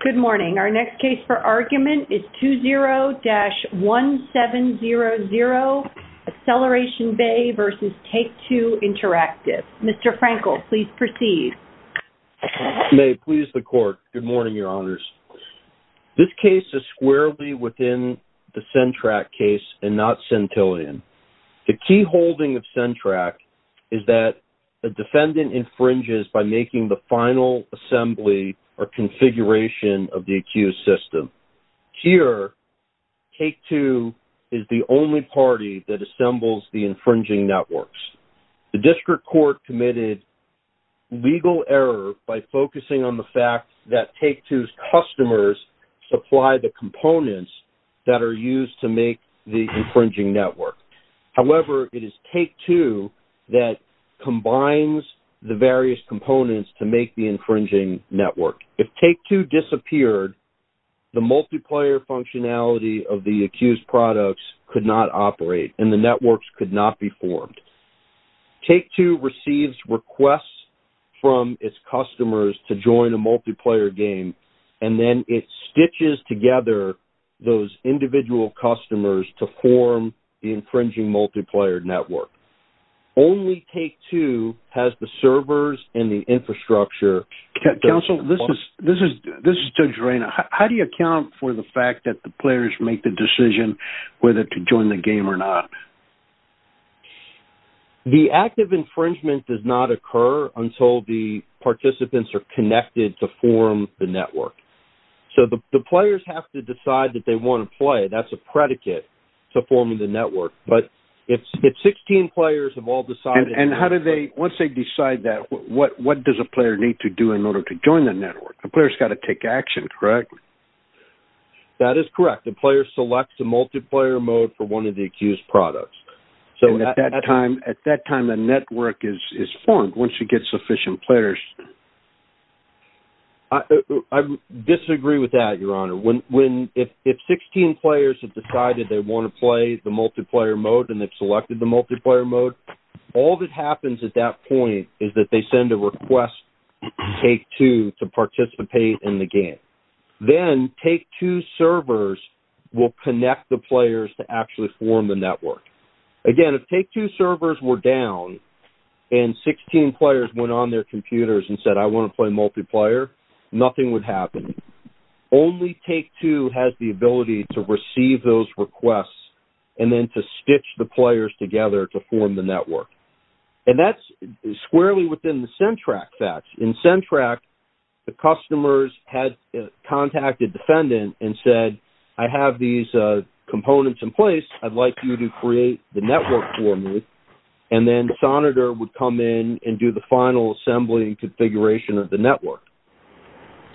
Good morning. Our next case for argument is 20-1700 Acceleration Bay v. Take-Two Interactive. Mr. Frankel, please proceed. May it please the Court. Good morning, Your Honors. This case is squarely within the CENTRAC case and not Centillion. The key holding of CENTRAC is that the defendant infringes by making the final assembly or configuration of the accused system. Here, Take-Two is the only party that assembles the infringing networks. The district court committed legal error by focusing on the fact that Take-Two's customers supply the components that are used to make the infringing network. However, it is Take-Two that combines the various components to make the infringing network. If Take-Two disappeared, the multiplayer functionality of the accused products could not operate and the networks could not be formed. Take-Two receives requests from its customers to join a multiplayer game and then it stitches together those individual customers to form the infringing multiplayer network. Only Take-Two has the servers and the infrastructure. Counsel, this is Judge Reina. How do you account for the fact that the players make the decision whether to join the game or not? The act of infringement does not occur until the participants are connected to form the network. So the players have to decide that they want to play. But if 16 players have all decided... And how do they, once they decide that, what does a player need to do in order to join the network? A player's got to take action, correct? That is correct. A player selects a multiplayer mode for one of the accused products. So at that time, a network is formed once you get sufficient players. I disagree with that, Your Honor. If 16 players have decided they want to play the multiplayer mode and they've selected the multiplayer mode, all that happens at that point is that they send a request to Take-Two to participate in the game. Then Take-Two's servers will connect the players to actually form the network. Again, if Take-Two's servers were down and 16 players went on their computers and said, I want to play multiplayer, nothing would happen. Only Take-Two has the ability to receive those requests and then to stitch the players together to form the network. And that's squarely within the SENTRAC facts. In SENTRAC, the customers had contacted the defendant and said, I have these components in place. I'd like you to create the network for me. And then Sonitor would come in and do the final assembly and configuration of the network.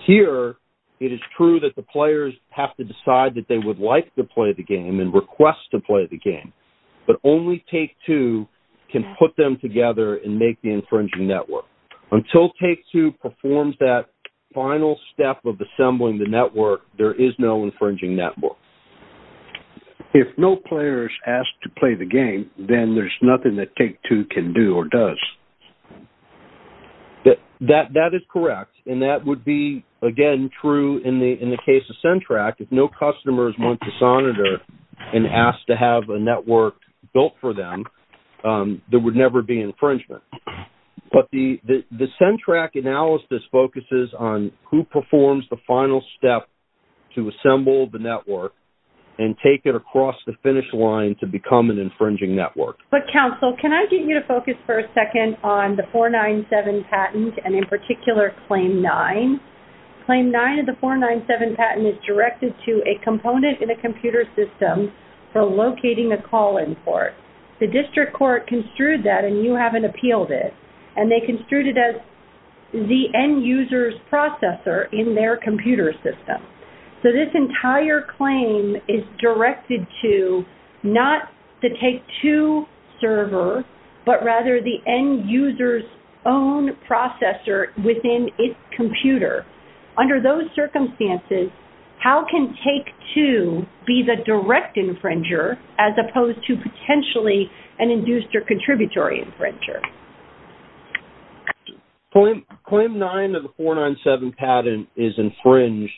Here, it is true that the players have to decide that they would like to play the game and request to play the game. But only Take-Two can put them together and make the infringing network. Until Take-Two performs that final step of assembling the network, there is no infringing network. If no players ask to play the game, then there's nothing that Take-Two can do or does. That is correct. And that would be, again, true in the case of SENTRAC. If no customers went to Sonitor and asked to have a network built for them, there would never be infringement. But the SENTRAC analysis focuses on who performs the final step to assemble the network and take it across the finish line to become an infringing network. But, counsel, can I get you to focus for a second on the 497 patent, and in particular Claim 9? Claim 9 of the 497 patent is directed to a component in a computer system for locating a call-in port. The district court construed that, and you haven't appealed it, and they construed it as the end user's processor in their computer system. So this entire claim is directed to not the Take-Two server, but rather the end user's own processor within its computer. Under those circumstances, how can Take-Two be the direct infringer as opposed to potentially an induced or contributory infringer? Claim 9 of the 497 patent is infringed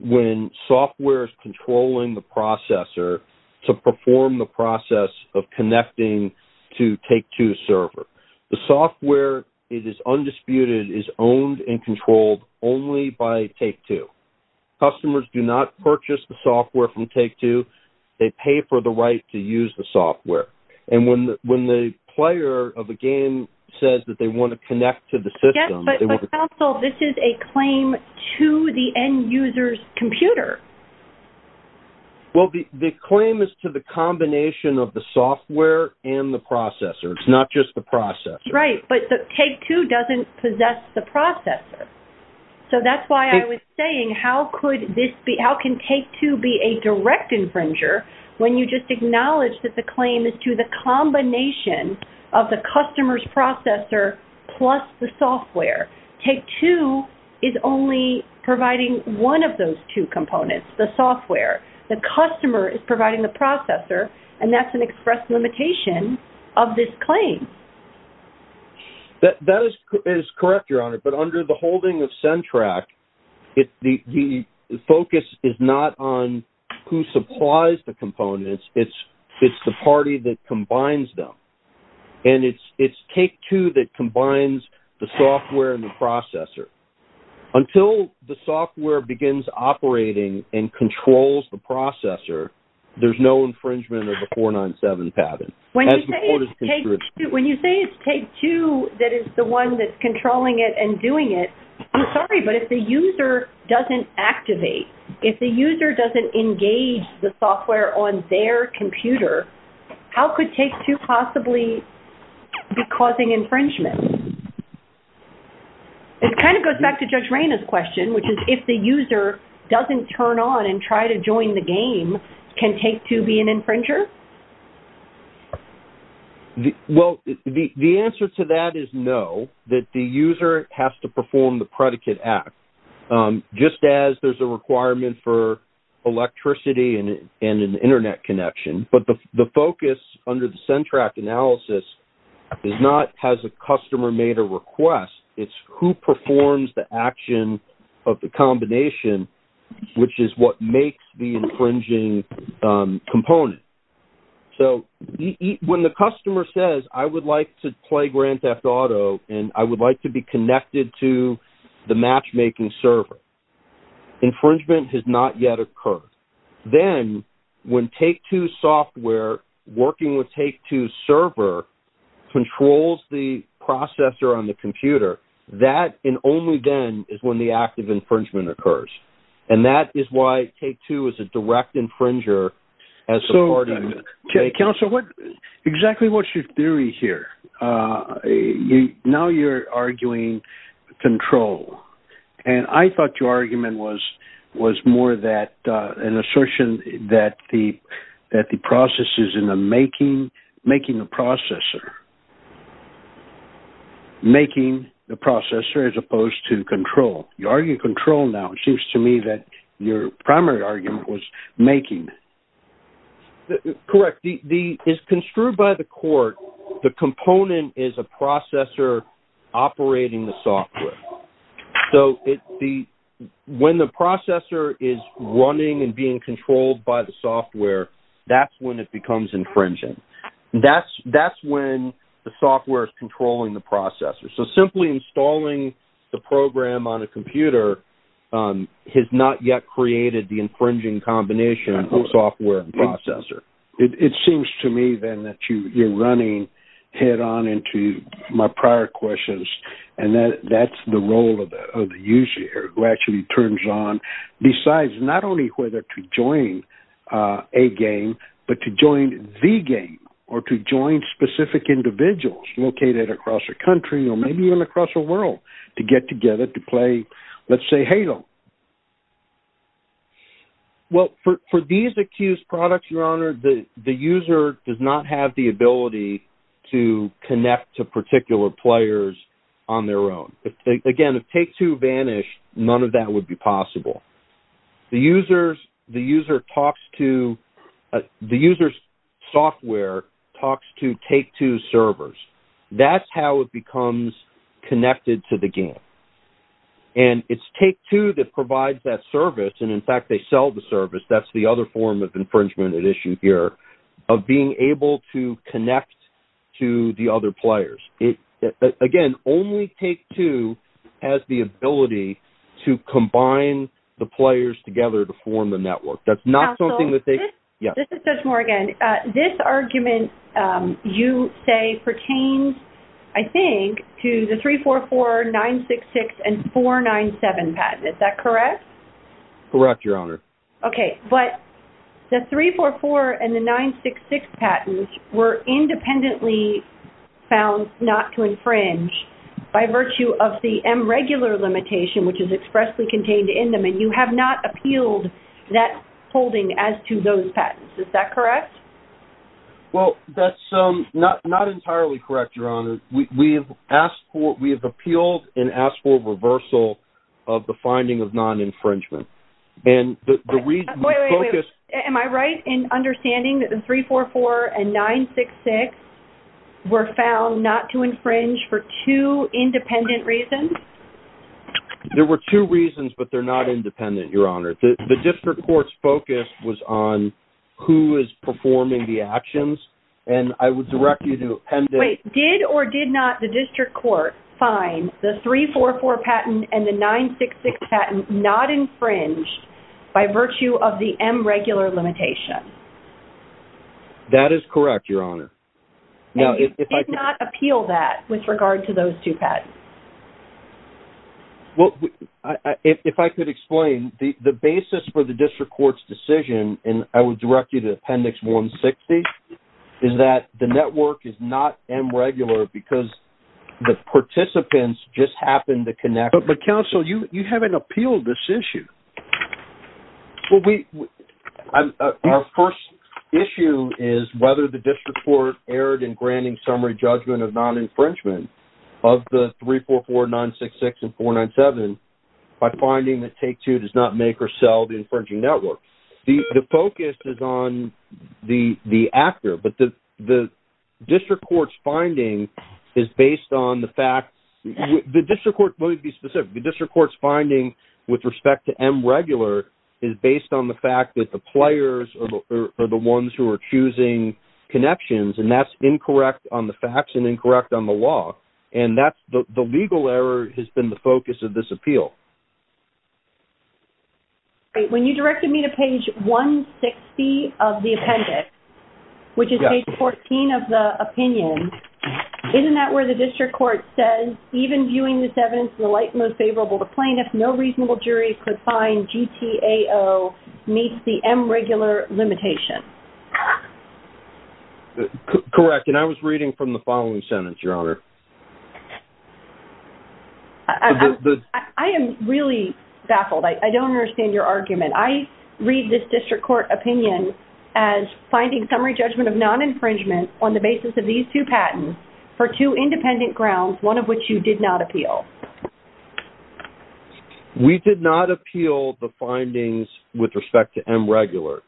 when software is controlling the processor to perform the process of connecting to Take-Two's server. The software, it is undisputed, is owned and controlled only by Take-Two. Customers do not purchase the software from Take-Two. They pay for the right to use the software. And when the player of a game says that they want to connect to the system... Yes, but counsel, this is a claim to the end user's computer. Well, the claim is to the combination of the software and the processor. It's not just the processor. So that's why I was saying, how can Take-Two be a direct infringer when you just acknowledge that the claim is to the combination of the customer's processor plus the software? Take-Two is only providing one of those two components, the software. The customer is providing the processor, and that's an express limitation of this claim. That is correct, Your Honor, but under the holding of CENTRAC, the focus is not on who supplies the components. It's the party that combines them. And it's Take-Two that combines the software and the processor. Until the software begins operating and controls the processor, there's no infringement of the 497 patent. When you say it's Take-Two that is the one that's controlling it and doing it, I'm sorry, but if the user doesn't activate, if the user doesn't engage the software on their computer, how could Take-Two possibly be causing infringement? It kind of goes back to Judge Reyna's question, which is if the user doesn't turn on and try to join the game, can Take-Two be an infringer? Well, the answer to that is no, that the user has to perform the predicate act, just as there's a requirement for electricity and an Internet connection. But the focus under the CENTRAC analysis is not has a customer made a request, it's who performs the action of the combination, which is what makes the infringing component. So when the customer says, I would like to play Grand Theft Auto and I would like to be connected to the matchmaking server, infringement has not yet occurred. Then when Take-Two's software, working with Take-Two's server, controls the processor on the computer, that and only then is when the act of infringement occurs. And that is why Take-Two is a direct infringer as a part of Take-Two. So, Counselor, exactly what's your theory here? Now you're arguing control. And I thought your argument was more that an assertion that the processes is in the making the processor. Making the processor as opposed to control. You argue control now. It seems to me that your primary argument was making. Correct. As construed by the court, the component is a processor operating the software. So when the processor is running and being controlled by the software, that's when it becomes infringing. That's when the software is controlling the processor. So simply installing the program on a computer has not yet created the infringing combination of software and processor. It seems to me then that you're running head on into my prior questions, and that's the role of the user who actually turns on, decides not only whether to join a game, but to join the game or to join specific individuals located across the country or maybe even across the world to get together to play, let's say, Halo. Well, for these accused products, Your Honor, the user does not have the ability to connect to particular players on their own. Again, if Take-Two vanished, none of that would be possible. The user's software talks to Take-Two's servers. That's how it becomes connected to the game. And it's Take-Two that provides that service, and, in fact, they sell the service. That's the other form of infringement at issue here of being able to connect to the other players. Again, only Take-Two has the ability to combine the players together to form the network. That's not something that they – Counsel, this is Judge Morgan. This argument you say pertains, I think, to the 344, 966, and 497 patent. Is that correct? Correct, Your Honor. Okay, but the 344 and the 966 patents were independently found not to infringe by virtue of the M regular limitation, which is expressly contained in them, and you have not appealed that holding as to those patents. Is that correct? Well, that's not entirely correct, Your Honor. We have appealed and asked for reversal of the finding of non-infringement. Wait, wait, wait. Am I right in understanding that the 344 and 966 were found not to infringe for two independent reasons? There were two reasons, but they're not independent, Your Honor. The district court's focus was on who is performing the actions, and I would direct you to append it. Wait. Did or did not the district court find the 344 patent and the 966 patent not infringed by virtue of the M regular limitation? That is correct, Your Honor. And you did not appeal that with regard to those two patents? Well, if I could explain, the basis for the district court's decision, and I would direct you to Appendix 160, is that the network is not M regular because the participants just happened to connect. But, counsel, you haven't appealed this issue. Well, our first issue is whether the district court erred in granting summary judgment of non-infringement of the 344, 966, and 497 by finding that Take-Two does not make or sell the infringing network. The focus is on the actor, but the district court's finding is based on the fact Let me be specific. The district court's finding with respect to M regular is based on the fact that the players are the ones who are choosing connections, and that's incorrect on the facts and incorrect on the law. And the legal error has been the focus of this appeal. When you directed me to page 160 of the appendix, which is page 14 of the opinion, isn't that where the district court says, even viewing this evidence in the light most favorable to plaintiffs, no reasonable jury could find GTAO meets the M regular limitation? Correct, and I was reading from the following sentence, Your Honor. I am really baffled. I don't understand your argument. I read this district court opinion as finding summary judgment of non-infringement on the basis of these two patents for two independent grounds, one of which you did not appeal. We did not appeal the findings with respect to M regular,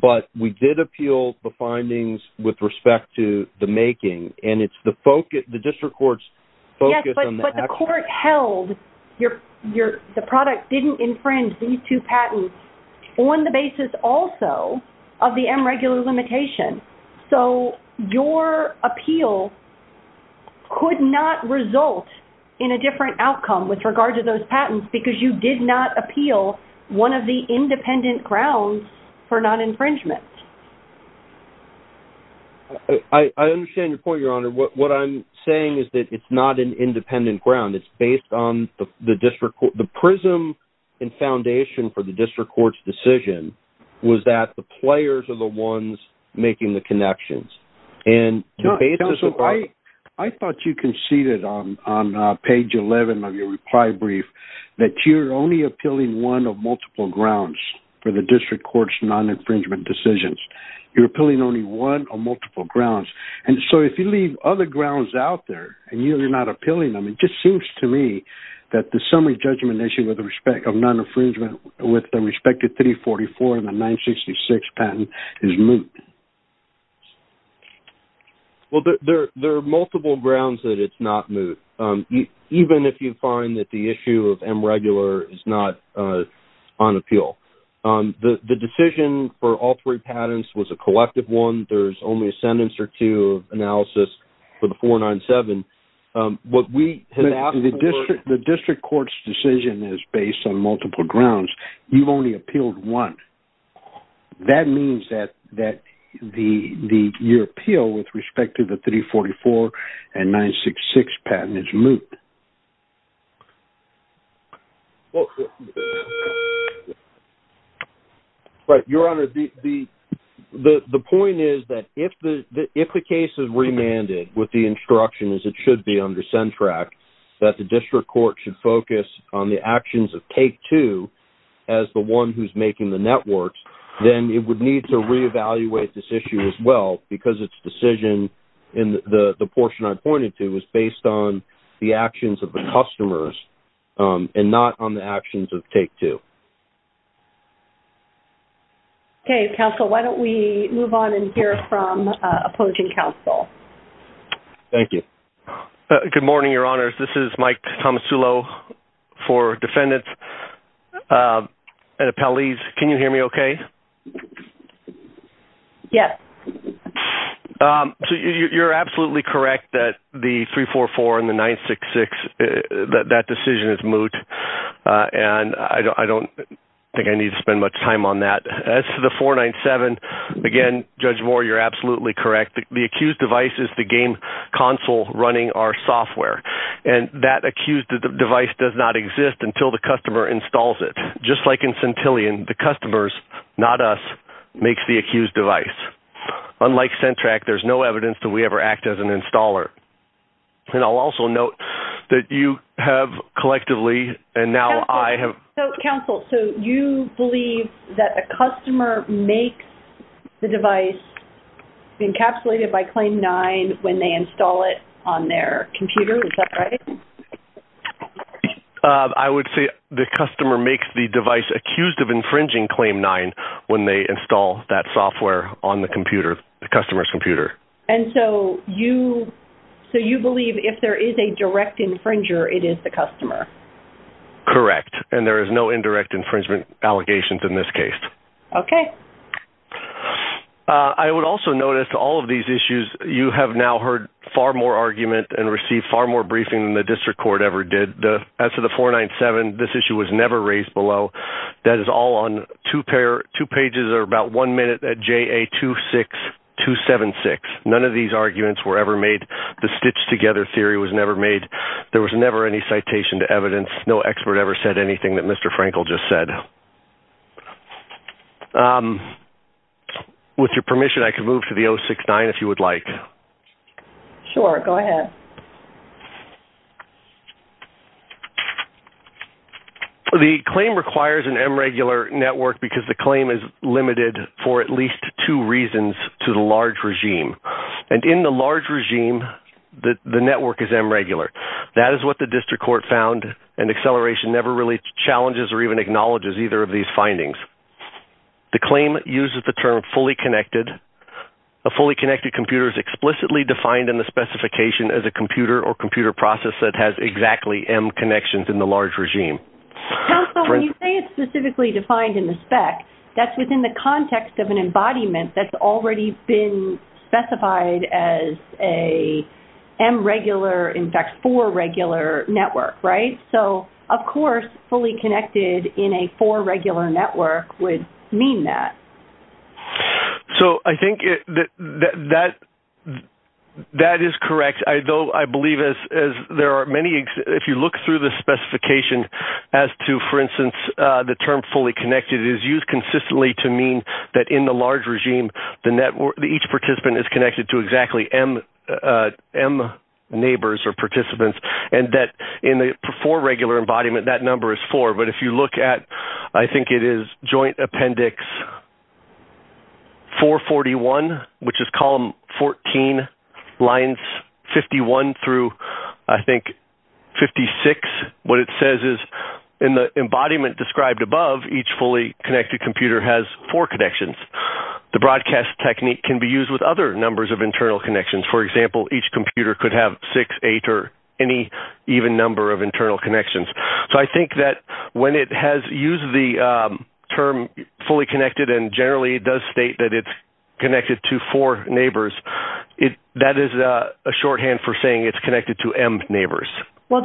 but we did appeal the findings with respect to the making, and it's the district court's focus on the actor. Yes, but the court held the product didn't infringe these two patents on the basis also of the M regular limitation. So your appeal could not result in a different outcome with regard to those patents because you did not appeal one of the independent grounds for non-infringement. I understand your point, Your Honor. What I'm saying is that it's not an independent ground. It's based on the district court. The prism and foundation for the district court's decision was that the players are the ones making the connections. I thought you conceded on page 11 of your reply brief that you're only appealing one of multiple grounds for the district court's non-infringement decisions. You're appealing only one of multiple grounds. So if you leave other grounds out there and you're not appealing them, it just seems to me that the summary judgment issue of non-infringement with respect to 344 and the 966 patent is moot. Well, there are multiple grounds that it's not moot, even if you find that the issue of M regular is not on appeal. The decision for all three patents was a collective one. There's only a sentence or two of analysis for the 497. The district court's decision is based on multiple grounds. You've only appealed one. That means that your appeal with respect to the 344 and 966 patent is moot. Your Honor, the point is that if the case is remanded with the instruction as it should be under CENTRAC, that the district court should focus on the actions of take two as the one who's making the networks, then it would need to reevaluate this issue as well because its decision in the portion I pointed to was based on the actions of the customers and not on the actions of take two. Okay. Counsel, why don't we move on and hear from opposing counsel. Thank you. Good morning, Your Honors. This is Mike Tomasulo for defendants and appellees. Can you hear me okay? Yes. So you're absolutely correct that the 344 and the 966, that decision is moot. And I don't think I need to spend much time on that. As to the 497, again, Judge Moore, you're absolutely correct. The accused device is the game console running our software. And that accused device does not exist until the customer installs it. Just like in Centillion, the customers, not us, makes the accused device. Unlike CENTRAC, there's no evidence that we ever act as an installer. And I'll also note that you have collectively and now I have. Counsel, so you believe that a customer makes the device encapsulated by Claim 9 when they install it on their computer. Is that right? I would say the customer makes the device accused of infringing Claim 9 when they install that software on the computer, the customer's computer. And so you believe if there is a direct infringer, it is the customer. Correct. And there is no indirect infringement allegations in this case. Okay. I would also notice to all of these issues, you have now heard far more argument and received far more briefing than the district court ever did. As to the 497, this issue was never raised below. That is all on two pages or about one minute at JA26276. None of these arguments were ever made. The stitch together theory was never made. There was never any citation to evidence. No expert ever said anything that Mr. Frankel just said. With your permission, I could move to the 069 if you would like. Sure, go ahead. The claim requires an M regular network because the claim is limited for at least two reasons to the large regime. And in the large regime, the network is M regular. That is what the district court found, and acceleration never really challenges or even acknowledges either of these findings. The claim uses the term fully connected. A fully connected computer is explicitly defined in the specification as a computer or computer process that has exactly M connections in the large regime. When you say it's specifically defined in the spec, that's within the context of an embodiment that's already been specified as a M regular, in fact, four regular network, right? So, of course, fully connected in a four regular network would mean that. So I think that is correct. I believe as there are many, if you look through the specification as to, for instance, the term fully connected, it is used consistently to mean that in the large regime, each participant is connected to exactly M neighbors or participants, and that in the four regular embodiment, that number is four. But if you look at, I think it is joint appendix 441, which is column 14, lines 51 through, I think, 56, what it says is in the embodiment described above, each fully connected computer has four connections. The broadcast technique can be used with other numbers of internal connections. For example, each computer could have six, eight, or any even number of internal connections. So I think that when it has used the term fully connected, and generally it does state that it's connected to four neighbors, that is a shorthand for saying it's connected to M neighbors. So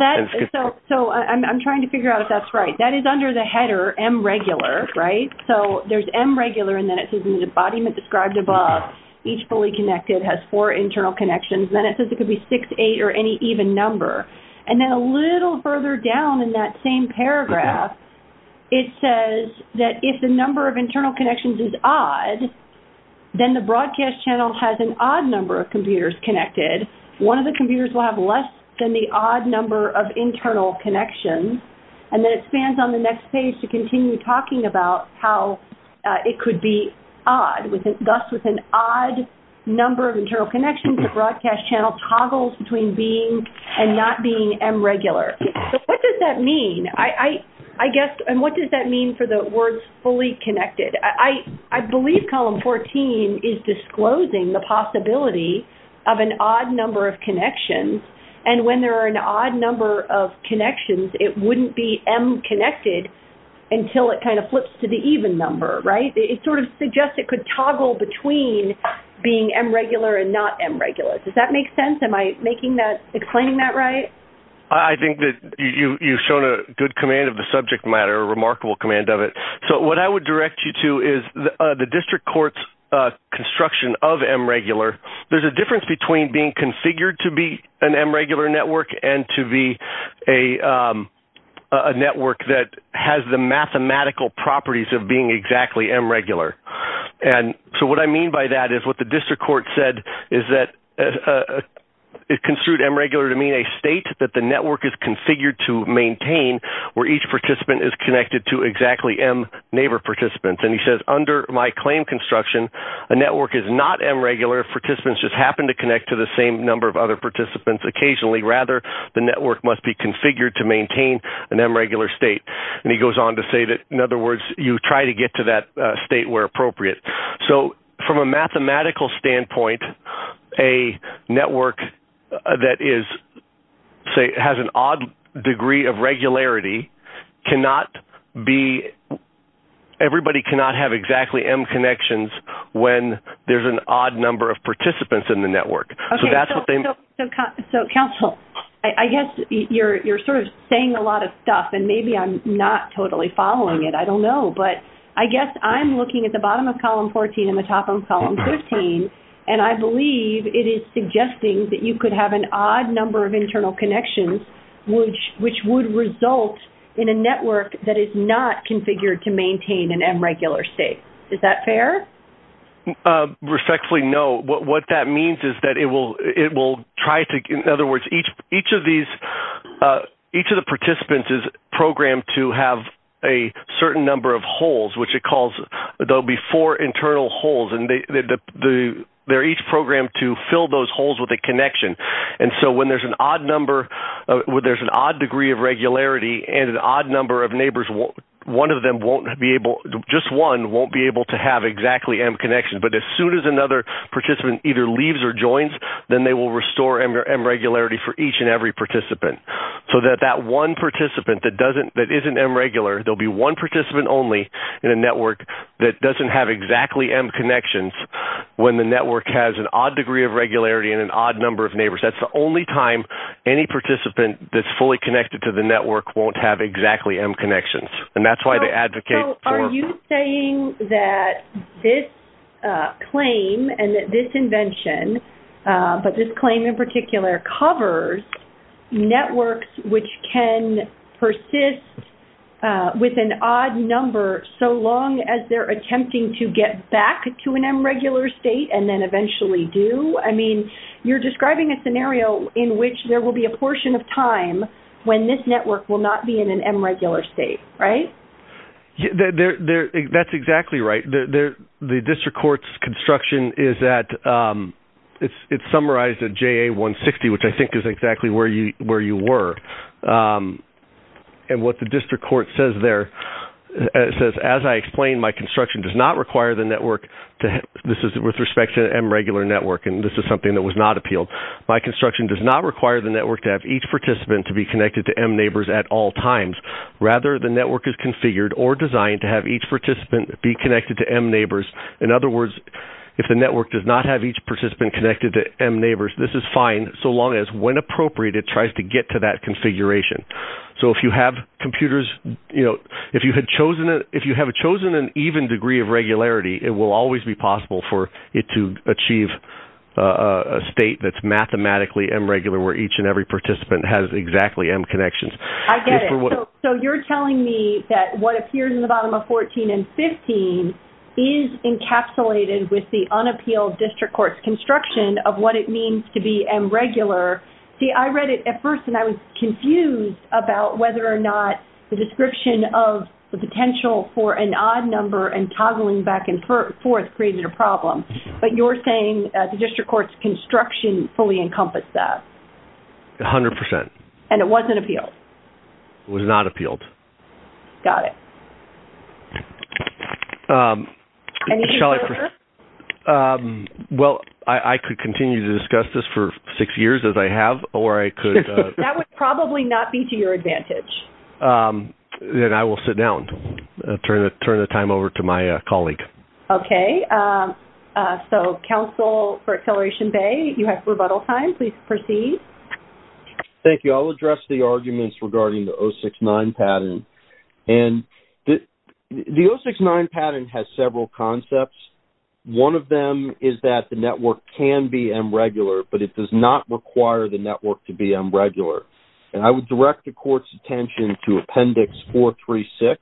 I'm trying to figure out if that's right. That is under the header M regular, right? So there's M regular, and then it says in the embodiment described above, each fully connected has four internal connections. Then it says it could be six, eight, or any even number. And then a little further down in that same paragraph, it says that if the number of internal connections is odd, then the broadcast channel has an odd number of computers connected. One of the computers will have less than the odd number of internal connections. And then it spans on the next page to continue talking about how it could be odd. Thus, with an odd number of internal connections, the broadcast channel toggles between being and not being M regular. So what does that mean? And what does that mean for the words fully connected? I believe column 14 is disclosing the possibility of an odd number of connections. And when there are an odd number of connections, it wouldn't be M connected until it kind of flips to the even number, right? It sort of suggests it could toggle between being M regular and not M regular. Does that make sense? Am I explaining that right? I think that you've shown a good command of the subject matter, a remarkable command of it. So what I would direct you to is the district court's construction of M regular. There's a difference between being configured to be an M regular network and to be a network that has the mathematical properties of being exactly M regular. And so what I mean by that is what the district court said is that it construed M regular to mean a state that the network is configured to maintain where each participant is connected to exactly M neighbor participants. And he says under my claim construction, a network is not M regular if participants just happen to connect to the same number of other participants occasionally. Rather, the network must be configured to maintain an M regular state. And he goes on to say that, in other words, you try to get to that state where appropriate. So from a mathematical standpoint, a network that has an odd degree of regularity cannot be – everybody cannot have exactly M connections when there's an odd number of participants in the network. So that's what they mean. So, counsel, I guess you're sort of saying a lot of stuff, and maybe I'm not totally following it. I don't know. But I guess I'm looking at the bottom of Column 14 and the top of Column 15, and I believe it is suggesting that you could have an odd number of internal connections which would result in a network that is not configured to maintain an M regular state. Is that fair? Respectfully, no. What that means is that it will try to – in other words, each of these – a certain number of holes, which it calls – there will be four internal holes, and they're each programmed to fill those holes with a connection. And so when there's an odd number – when there's an odd degree of regularity and an odd number of neighbors, one of them won't be able – just one won't be able to have exactly M connections. But as soon as another participant either leaves or joins, then they will restore M regularity for each and every participant so that that one participant that isn't M regular, there will be one participant only in a network that doesn't have exactly M connections when the network has an odd degree of regularity and an odd number of neighbors. That's the only time any participant that's fully connected to the network won't have exactly M connections, and that's why they advocate for – So are you saying that this claim and this invention, but this claim in particular, covers networks which can persist with an odd number so long as they're attempting to get back to an M regular state and then eventually do? I mean, you're describing a scenario in which there will be a portion of time when this network will not be in an M regular state, right? That's exactly right. The district court's construction is that – it's summarized at JA-160, which I think is exactly where you were. And what the district court says there, it says, as I explained, my construction does not require the network – this is with respect to an M regular network, and this is something that was not appealed. My construction does not require the network to have each participant to be connected to M neighbors at all times. Rather, the network is configured or designed to have each participant be connected to M neighbors. In other words, if the network does not have each participant connected to M neighbors, this is fine so long as when appropriate it tries to get to that configuration. So if you have computers – if you have chosen an even degree of regularity, it will always be possible for it to achieve a state that's mathematically M regular where each and every participant has exactly M connections. I get it. So you're telling me that what appears in the bottom of 14 and 15 is encapsulated with the unappealed district court's construction of what it means to be M regular. See, I read it at first and I was confused about whether or not the description of the potential for an odd number and toggling back and forth created a problem. But you're saying the district court's construction fully encompassed that. A hundred percent. And it wasn't appealed? It was not appealed. Got it. Any further? Well, I could continue to discuss this for six years as I have or I could – That would probably not be to your advantage. Then I will sit down and turn the time over to my colleague. Okay. So, counsel for Acceleration Bay, you have rebuttal time. Please proceed. Thank you. So I'll address the arguments regarding the 069 pattern. And the 069 pattern has several concepts. One of them is that the network can be M regular, but it does not require the network to be M regular. And I would direct the court's attention to Appendix 436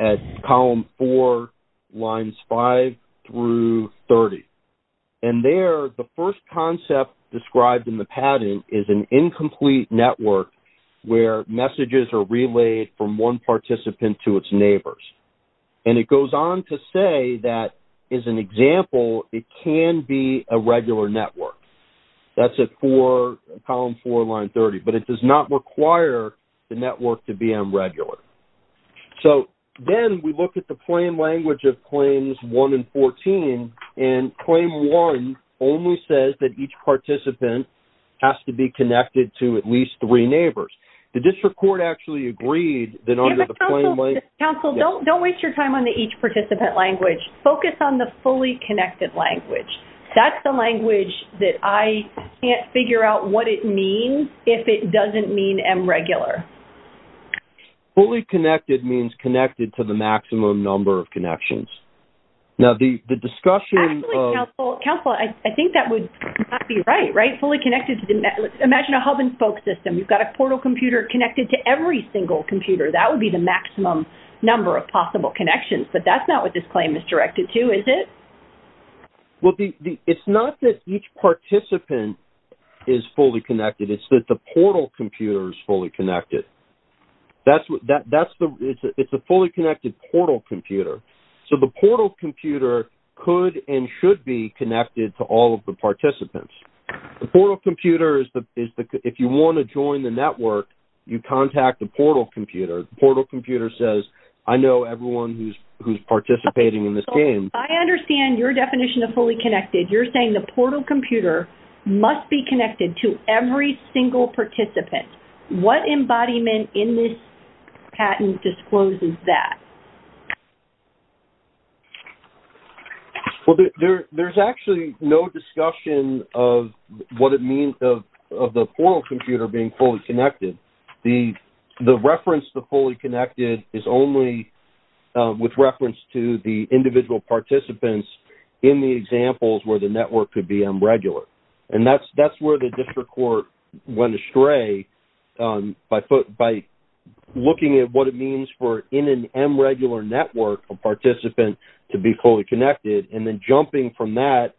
at Column 4, Lines 5 through 30. And there, the first concept described in the pattern is an incomplete network where messages are relayed from one participant to its neighbors. And it goes on to say that, as an example, it can be a regular network. That's at Column 4, Line 30. But it does not require the network to be M regular. So then we look at the plain language of Claims 1 and 14, and Claim 1 only says that each participant has to be connected to at least three neighbors. The district court actually agreed that under the plain language – Counsel, don't waste your time on the each participant language. Focus on the fully connected language. That's the language that I can't figure out what it means if it doesn't mean M regular. Fully connected means connected to the maximum number of connections. Actually, Counsel, I think that would not be right, right? Imagine a hub-and-spoke system. You've got a portal computer connected to every single computer. That would be the maximum number of possible connections. But that's not what this claim is directed to, is it? Well, it's not that each participant is fully connected. It's that the portal computer is fully connected. It's a fully connected portal computer. So the portal computer could and should be connected to all of the participants. The portal computer is the – if you want to join the network, you contact the portal computer. The portal computer says, I know everyone who's participating in this game. I understand your definition of fully connected. You're saying the portal computer must be connected to every single participant. What embodiment in this patent discloses that? Well, there's actually no discussion of what it means of the portal computer being fully connected. The reference to fully connected is only with reference to the individual participants in the examples where the network could be unregular. And that's where the district court went astray by looking at what it means for, in an unregular network, a participant to be fully connected, and then jumping from that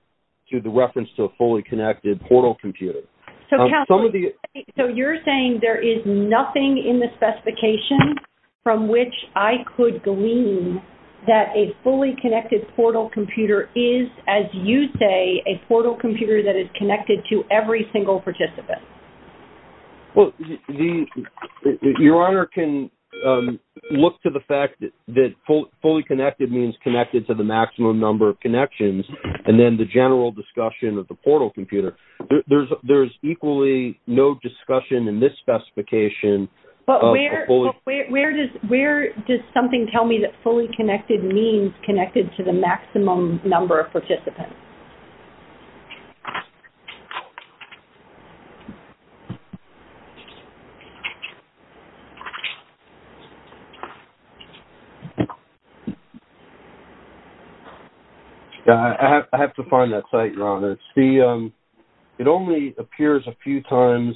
to the reference to a fully connected portal computer. So you're saying there is nothing in the specification from which I could glean that a fully connected portal computer is, as you say, a portal computer that is connected to every single participant? Well, Your Honor can look to the fact that fully connected means connected to the maximum number of connections, and then the general discussion of the portal computer. There's equally no discussion in this specification. But where does something tell me that fully connected means connected to the maximum number of participants? It only appears a few times.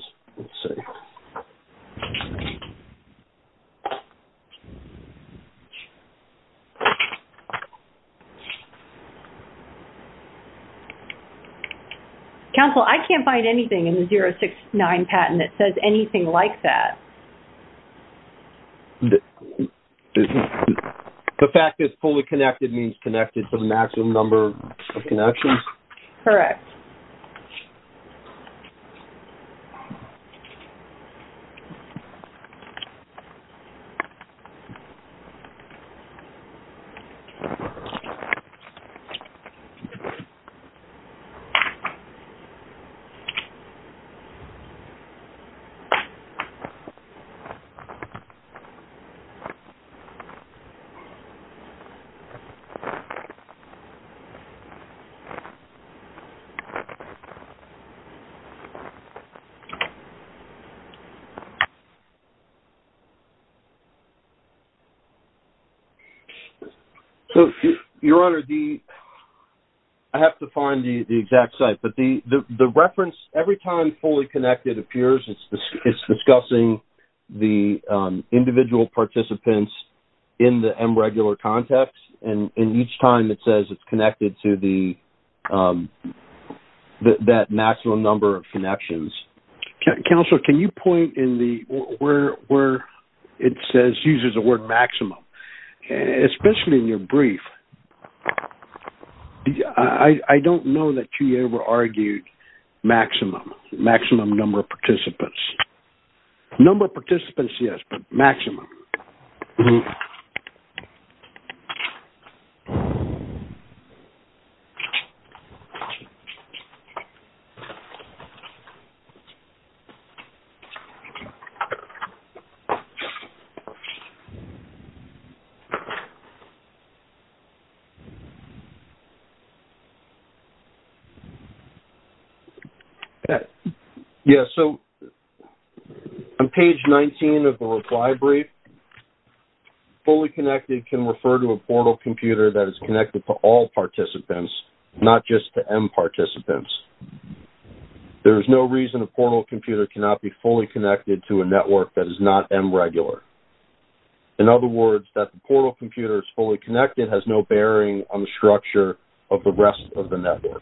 Counsel, I can't find anything in the 069 patent that says anything like that. The fact that it's fully connected means connected to the maximum number of connections? Correct. Thank you. So, Your Honor, I have to find the exact site. But the reference, every time fully connected appears, it's discussing the individual participants in the unregular context. And each time it says it's connected to that maximum number of connections. Counsel, can you point where it uses the word maximum? Especially in your brief, I don't know that you ever argued maximum, maximum number of participants. Number of participants, yes, but maximum. Okay. Yes, so on page 19 of the reply brief, fully connected can refer to a portal computer that is connected to all participants, not just to M participants. There is no reason a portal computer cannot be fully connected to a network that is not M regular. In other words, that the portal computer is fully connected has no bearing on the structure of the rest of the network.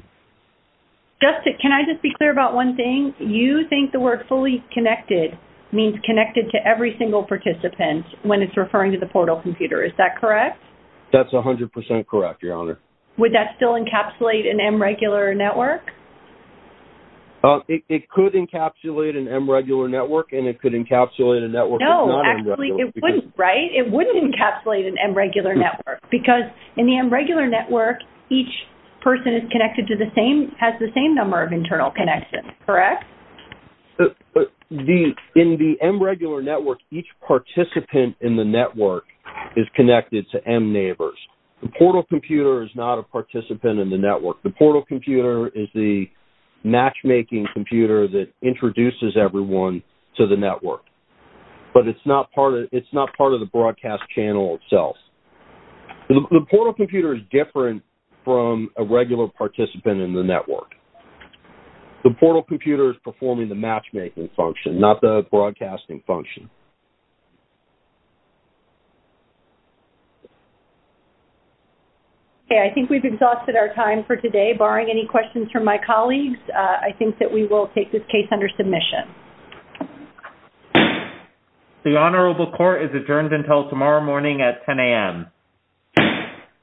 Justin, can I just be clear about one thing? You think the word fully connected means connected to every single participant when it's referring to the portal computer. Is that correct? That's 100% correct, Your Honor. Would that still encapsulate an M regular network? It could encapsulate an M regular network, and it could encapsulate a network that's not M regular. No, actually, it wouldn't, right? It wouldn't encapsulate an M regular network, because in the M regular network, each person has the same number of internal connections, correct? In the M regular network, each participant in the network is connected to M neighbors. The portal computer is not a participant in the network. The portal computer is the matchmaking computer that introduces everyone to the network, but it's not part of the broadcast channel itself. The portal computer is different from a regular participant in the network. The portal computer is performing the matchmaking function, not the broadcasting function. Okay, I think we've exhausted our time for today. Barring any questions from my colleagues, I think that we will take this case under submission. The Honorable Court is adjourned until tomorrow morning at 10 a.m. Thank you.